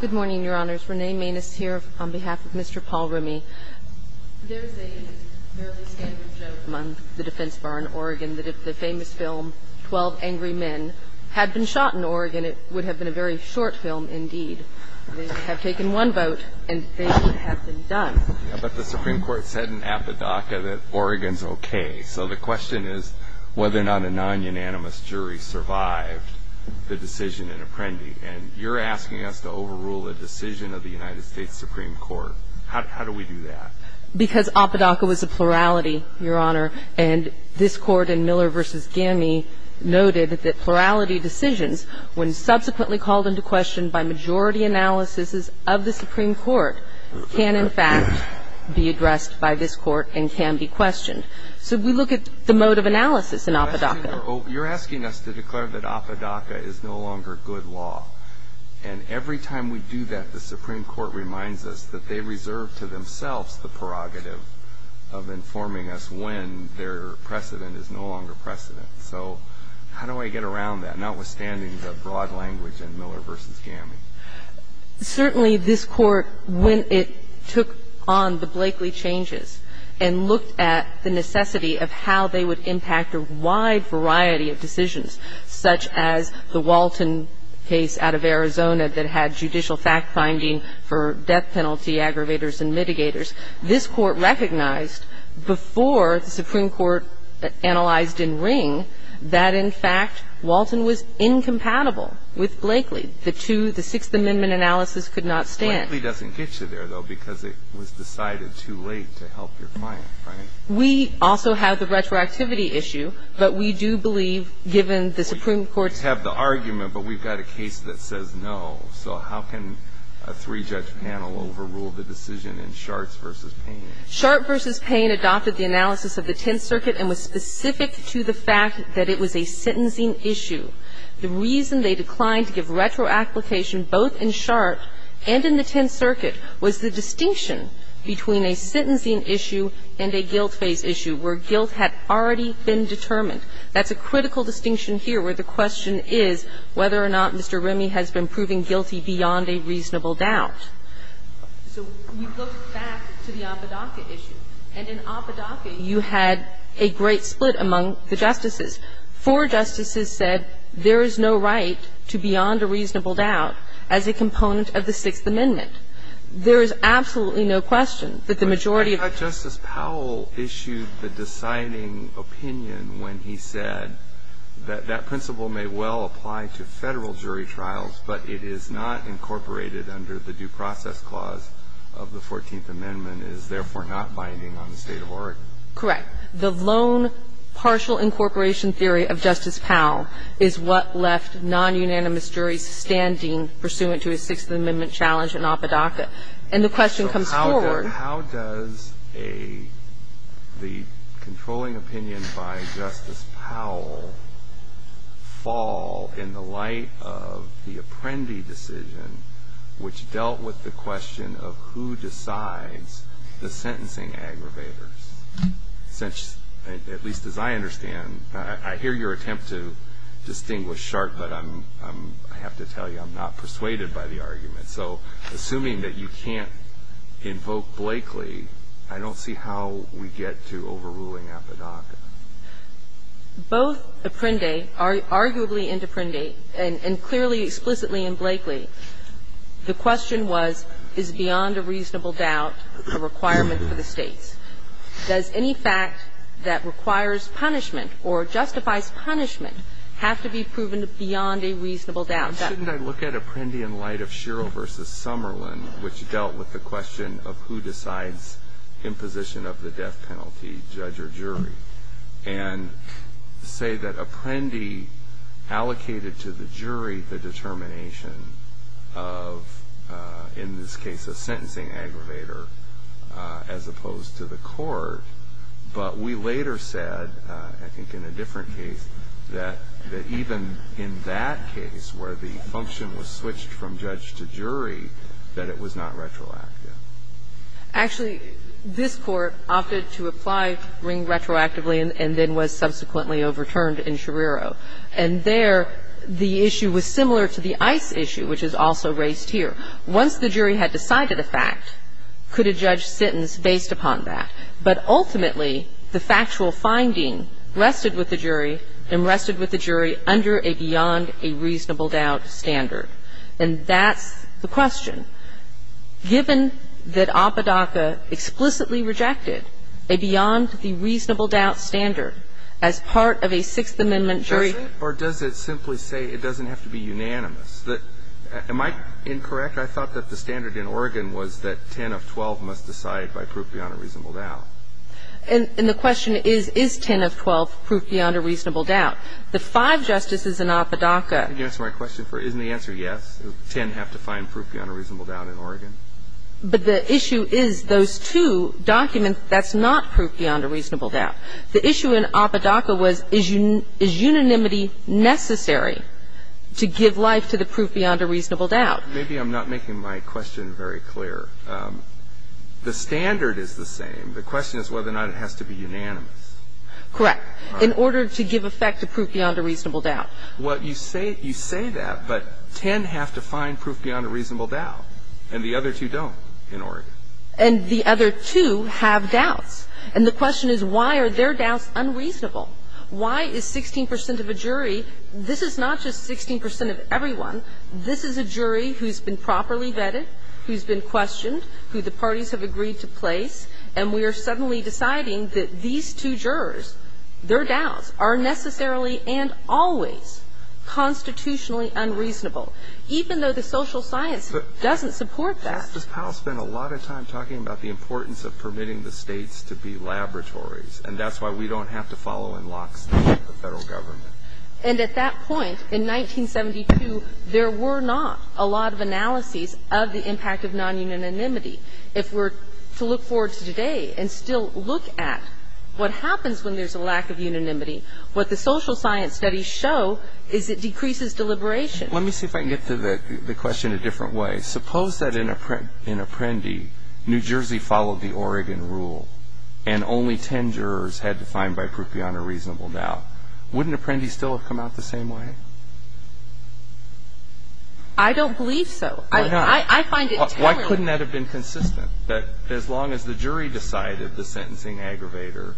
Good morning, Your Honors. Renee Maness here on behalf of Mr. Paul Remme. There's a fairly standard joke among the defense bar in Oregon that if the famous film Twelve Angry Men had been shot in Oregon, it would have been a very short film indeed. They would have taken one vote and things would have been done. But the Supreme Court said in Apodaca that Oregon's okay. So the question is whether or not a non-unanimous jury survived the decision in Apprendi. And you're asking us to overrule a decision of the United States Supreme Court. How do we do that? Because Apodaca was a plurality, Your Honor. And this Court in Miller v. Gamme noted that plurality decisions, when subsequently called into question by majority analysis of the Supreme Court, can in fact be addressed by this Court and can be questioned. So we look at the mode of analysis in Apodaca. You're asking us to declare that Apodaca is no longer good law. And every time we do that, the Supreme Court reminds us that they reserve to themselves the prerogative of informing us when their precedent is no longer precedent. So how do I get around that, notwithstanding the broad language in Miller v. Gamme? Certainly, this Court, when it took on the Blakeley changes and looked at the necessity of how they would impact a wide variety of decisions, such as the Walton case out of Arizona that had judicial fact-finding for death penalty aggravators and mitigators, this Court recognized before the Supreme Court analyzed in Ring that, in fact, Walton was incompatible with Blakeley. The two, the Sixth Amendment analysis could not stand. Blakeley doesn't get you there, though, because it was decided too late to help your client, right? We also have the retroactivity issue, but we do believe, given the Supreme Court's ---- We have the argument, but we've got a case that says no. So how can a three-judge panel overrule the decision in Shartz v. Payne? Shartz v. Payne adopted the analysis of the Tenth Circuit and was specific to the fact that it was a sentencing issue. The reason they declined to give retroapplication both in Shartz and in the Tenth Circuit was the distinction between a sentencing issue and a guilt phase issue where guilt had already been determined. That's a critical distinction here where the question is whether or not Mr. Remy has been proving guilty beyond a reasonable doubt. So we look back to the Apodaca issue. And in Apodaca, you had a great split among the justices. Four justices said there is no right to beyond a reasonable doubt as a component of the Sixth Amendment. There is absolutely no question that the majority of ---- But I thought Justice Powell issued the deciding opinion when he said that that principle may well apply to Federal jury trials, but it is not incorporated under the due process clause of the Fourteenth Amendment, is therefore not binding on the State of Oregon. Correct. The lone partial incorporation theory of Justice Powell is what left non-unanimous juries standing pursuant to a Sixth Amendment challenge in Apodaca. And the question comes forward. How does a ---- the controlling opinion by Justice Powell fall in the light of the Apprendi decision which dealt with the question of who decides the sentencing aggravators? Since, at least as I understand, I hear your attempt to distinguish sharp, but I'm ---- I have to tell you I'm not persuaded by the argument. So assuming that you can't invoke Blakely, I don't see how we get to overruling Apodaca. Both Apprendi, arguably Interprendi, and clearly, explicitly in Blakely, the question was, is beyond a reasonable doubt a requirement for the States? Does any fact that requires punishment or justifies punishment have to be proven beyond a reasonable doubt? Why shouldn't I look at Apprendi in light of Sherrill v. Summerlin, which dealt with the question of who decides imposition of the death penalty, judge or jury, and say that Apprendi allocated to the jury the determination of, in this case, a sentencing aggravator as opposed to the court, but we later said, I think in a case where the function was switched from judge to jury, that it was not retroactive? Actually, this Court opted to apply Ring retroactively and then was subsequently overturned in Schirrero. And there, the issue was similar to the ICE issue, which is also raised here. Once the jury had decided a fact, could a judge sentence based upon that? But ultimately, the factual finding rested with the jury and rested with the jury under a beyond-a-reasonable-doubt standard. And that's the question. Given that Apodaca explicitly rejected a beyond-the-reasonable-doubt standard as part of a Sixth Amendment jury. Or does it simply say it doesn't have to be unanimous? Am I incorrect? I thought that the standard in Oregon was that 10 of 12 must decide by proof beyond a reasonable doubt. And the question is, is 10 of 12 proof beyond a reasonable doubt? The five justices in Apodaca. Can you answer my question? Isn't the answer yes, 10 have to find proof beyond a reasonable doubt in Oregon? But the issue is those two documents, that's not proof beyond a reasonable doubt. The issue in Apodaca was, is unanimity necessary to give life to the proof beyond a reasonable doubt? Maybe I'm not making my question very clear. The standard is the same. The question is whether or not it has to be unanimous. Correct. In order to give effect to proof beyond a reasonable doubt. Well, you say that, but 10 have to find proof beyond a reasonable doubt. And the other two don't in Oregon. And the other two have doubts. And the question is, why are their doubts unreasonable? Why is 16 percent of a jury, this is not just 16 percent of everyone. This is a jury who's been properly vetted, who's been questioned, who the parties have agreed to place. And we are suddenly deciding that these two jurors, their doubts are necessarily and always constitutionally unreasonable, even though the social science doesn't support that. But Justice Powell spent a lot of time talking about the importance of permitting the States to be laboratories. And that's why we don't have to follow in lockstep with the Federal Government. And at that point, in 1972, there were not a lot of analyses of the impact of non-unanimity. If we're to look forward to today and still look at what happens when there's a lack of unanimity, what the social science studies show is it decreases deliberation. Let me see if I can get to the question a different way. Suppose that in Apprendi, New Jersey followed the Oregon rule, and only 10 jurors had to find by proof beyond a reasonable doubt. Wouldn't Apprendi still have come out the same way? Why not? I find it terrible. Why couldn't that have been consistent, that as long as the jury decided the sentencing aggravator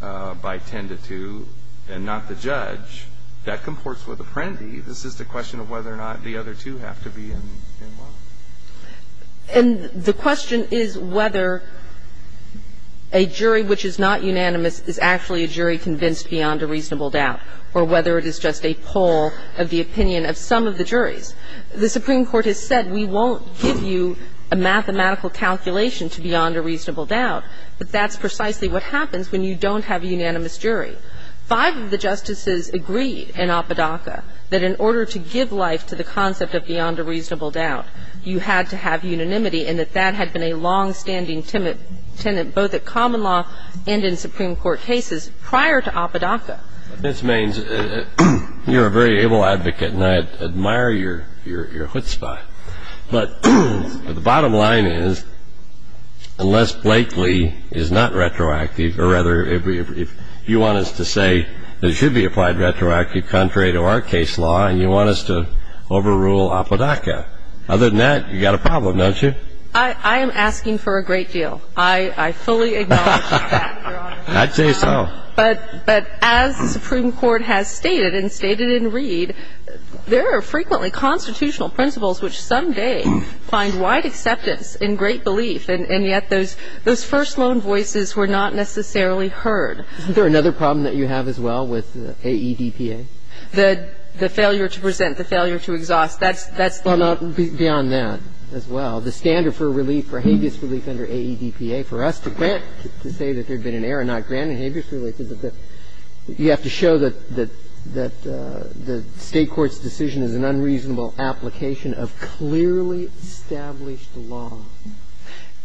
by 10 to 2 and not the judge, that comports with Apprendi? This is the question of whether or not the other two have to be involved. And the question is whether a jury which is not unanimous is actually a jury convinced beyond a reasonable doubt, or whether it is just a poll of the opinion of some of the juries. The Supreme Court has said, we won't give you a mathematical calculation to beyond a reasonable doubt, but that's precisely what happens when you don't have a unanimous jury. Five of the justices agreed in Apodaca that in order to give life to the concept of beyond a reasonable doubt, you had to have unanimity, and that that had been a longstanding tenet both at common law and in Supreme Court cases prior to Apodaca. This means you're a very able advocate, and I admire your chutzpah. But the bottom line is, unless Blakely is not retroactive, or rather, if you want us to say there should be applied retroactive contrary to our case law, and you want us to overrule Apodaca, other than that, you've got a problem, don't you? I am asking for a great deal. I fully acknowledge that, Your Honor. I'd say so. But as the Supreme Court has stated, and stated in Reed, there are frequently constitutional principles which someday find wide acceptance and great belief, and yet those first-loan voices were not necessarily heard. Isn't there another problem that you have as well with AEDPA? The failure to present, the failure to exhaust, that's the one. Well, beyond that as well, the standard for relief, for habeas relief under AEDPA, for us to say that there had been an error, not granted habeas relief, is that you have to show that the State court's decision is an unreasonable application of clearly established law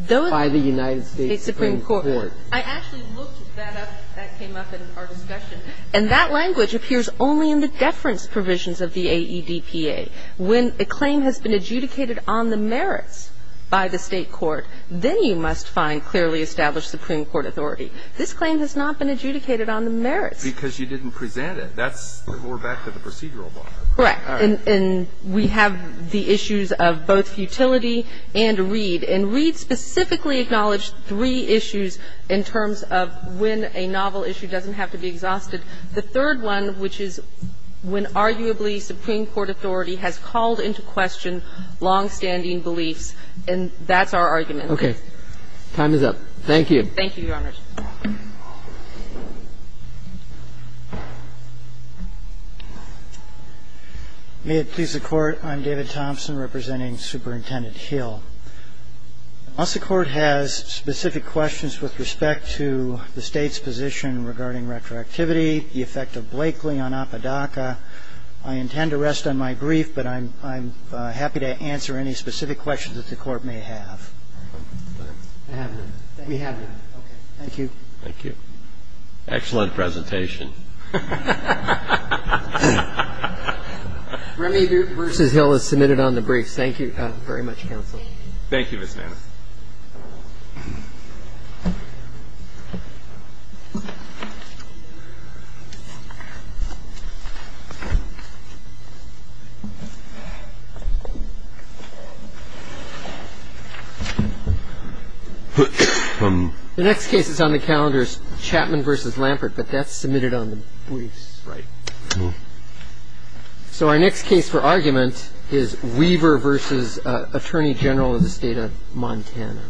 by the United States Supreme Court. I actually looked that up. That came up in our discussion. And that language appears only in the deference provisions of the AEDPA. When a claim has been adjudicated on the merits by the State court, then you must find clearly established Supreme Court authority. This claim has not been adjudicated on the merits. Because you didn't present it. That's before back to the procedural bar. Correct. And we have the issues of both futility and Reed. And Reed specifically acknowledged three issues in terms of when a novel issue doesn't have to be exhausted. The third one, which is when arguably Supreme Court authority has called into question longstanding beliefs, and that's our argument. And that's all I'm going to say. I think we're done. Okay. Time is up. Thank you. Thank you, Your Honor. May it please the Court, I'm David Thompson representing Superintendent Hill. Unless the Court has specific questions with respect to the State's position regarding retroactivity, the effect of Blakely on Apodaca, I intend to rest on my brief, but I'm happy to answer any specific questions that the Court may have. I have none. We have none. Okay. Thank you. Thank you. Excellent presentation. Remy versus Hill is submitted on the brief. Thank you very much, Counsel. Thank you. Thank you, Ms. Nance. The next case is on the calendar is Chapman versus Lampert, but that's submitted on the briefs. Right. So our next case for argument is Weaver versus Attorney General of the State of Montana.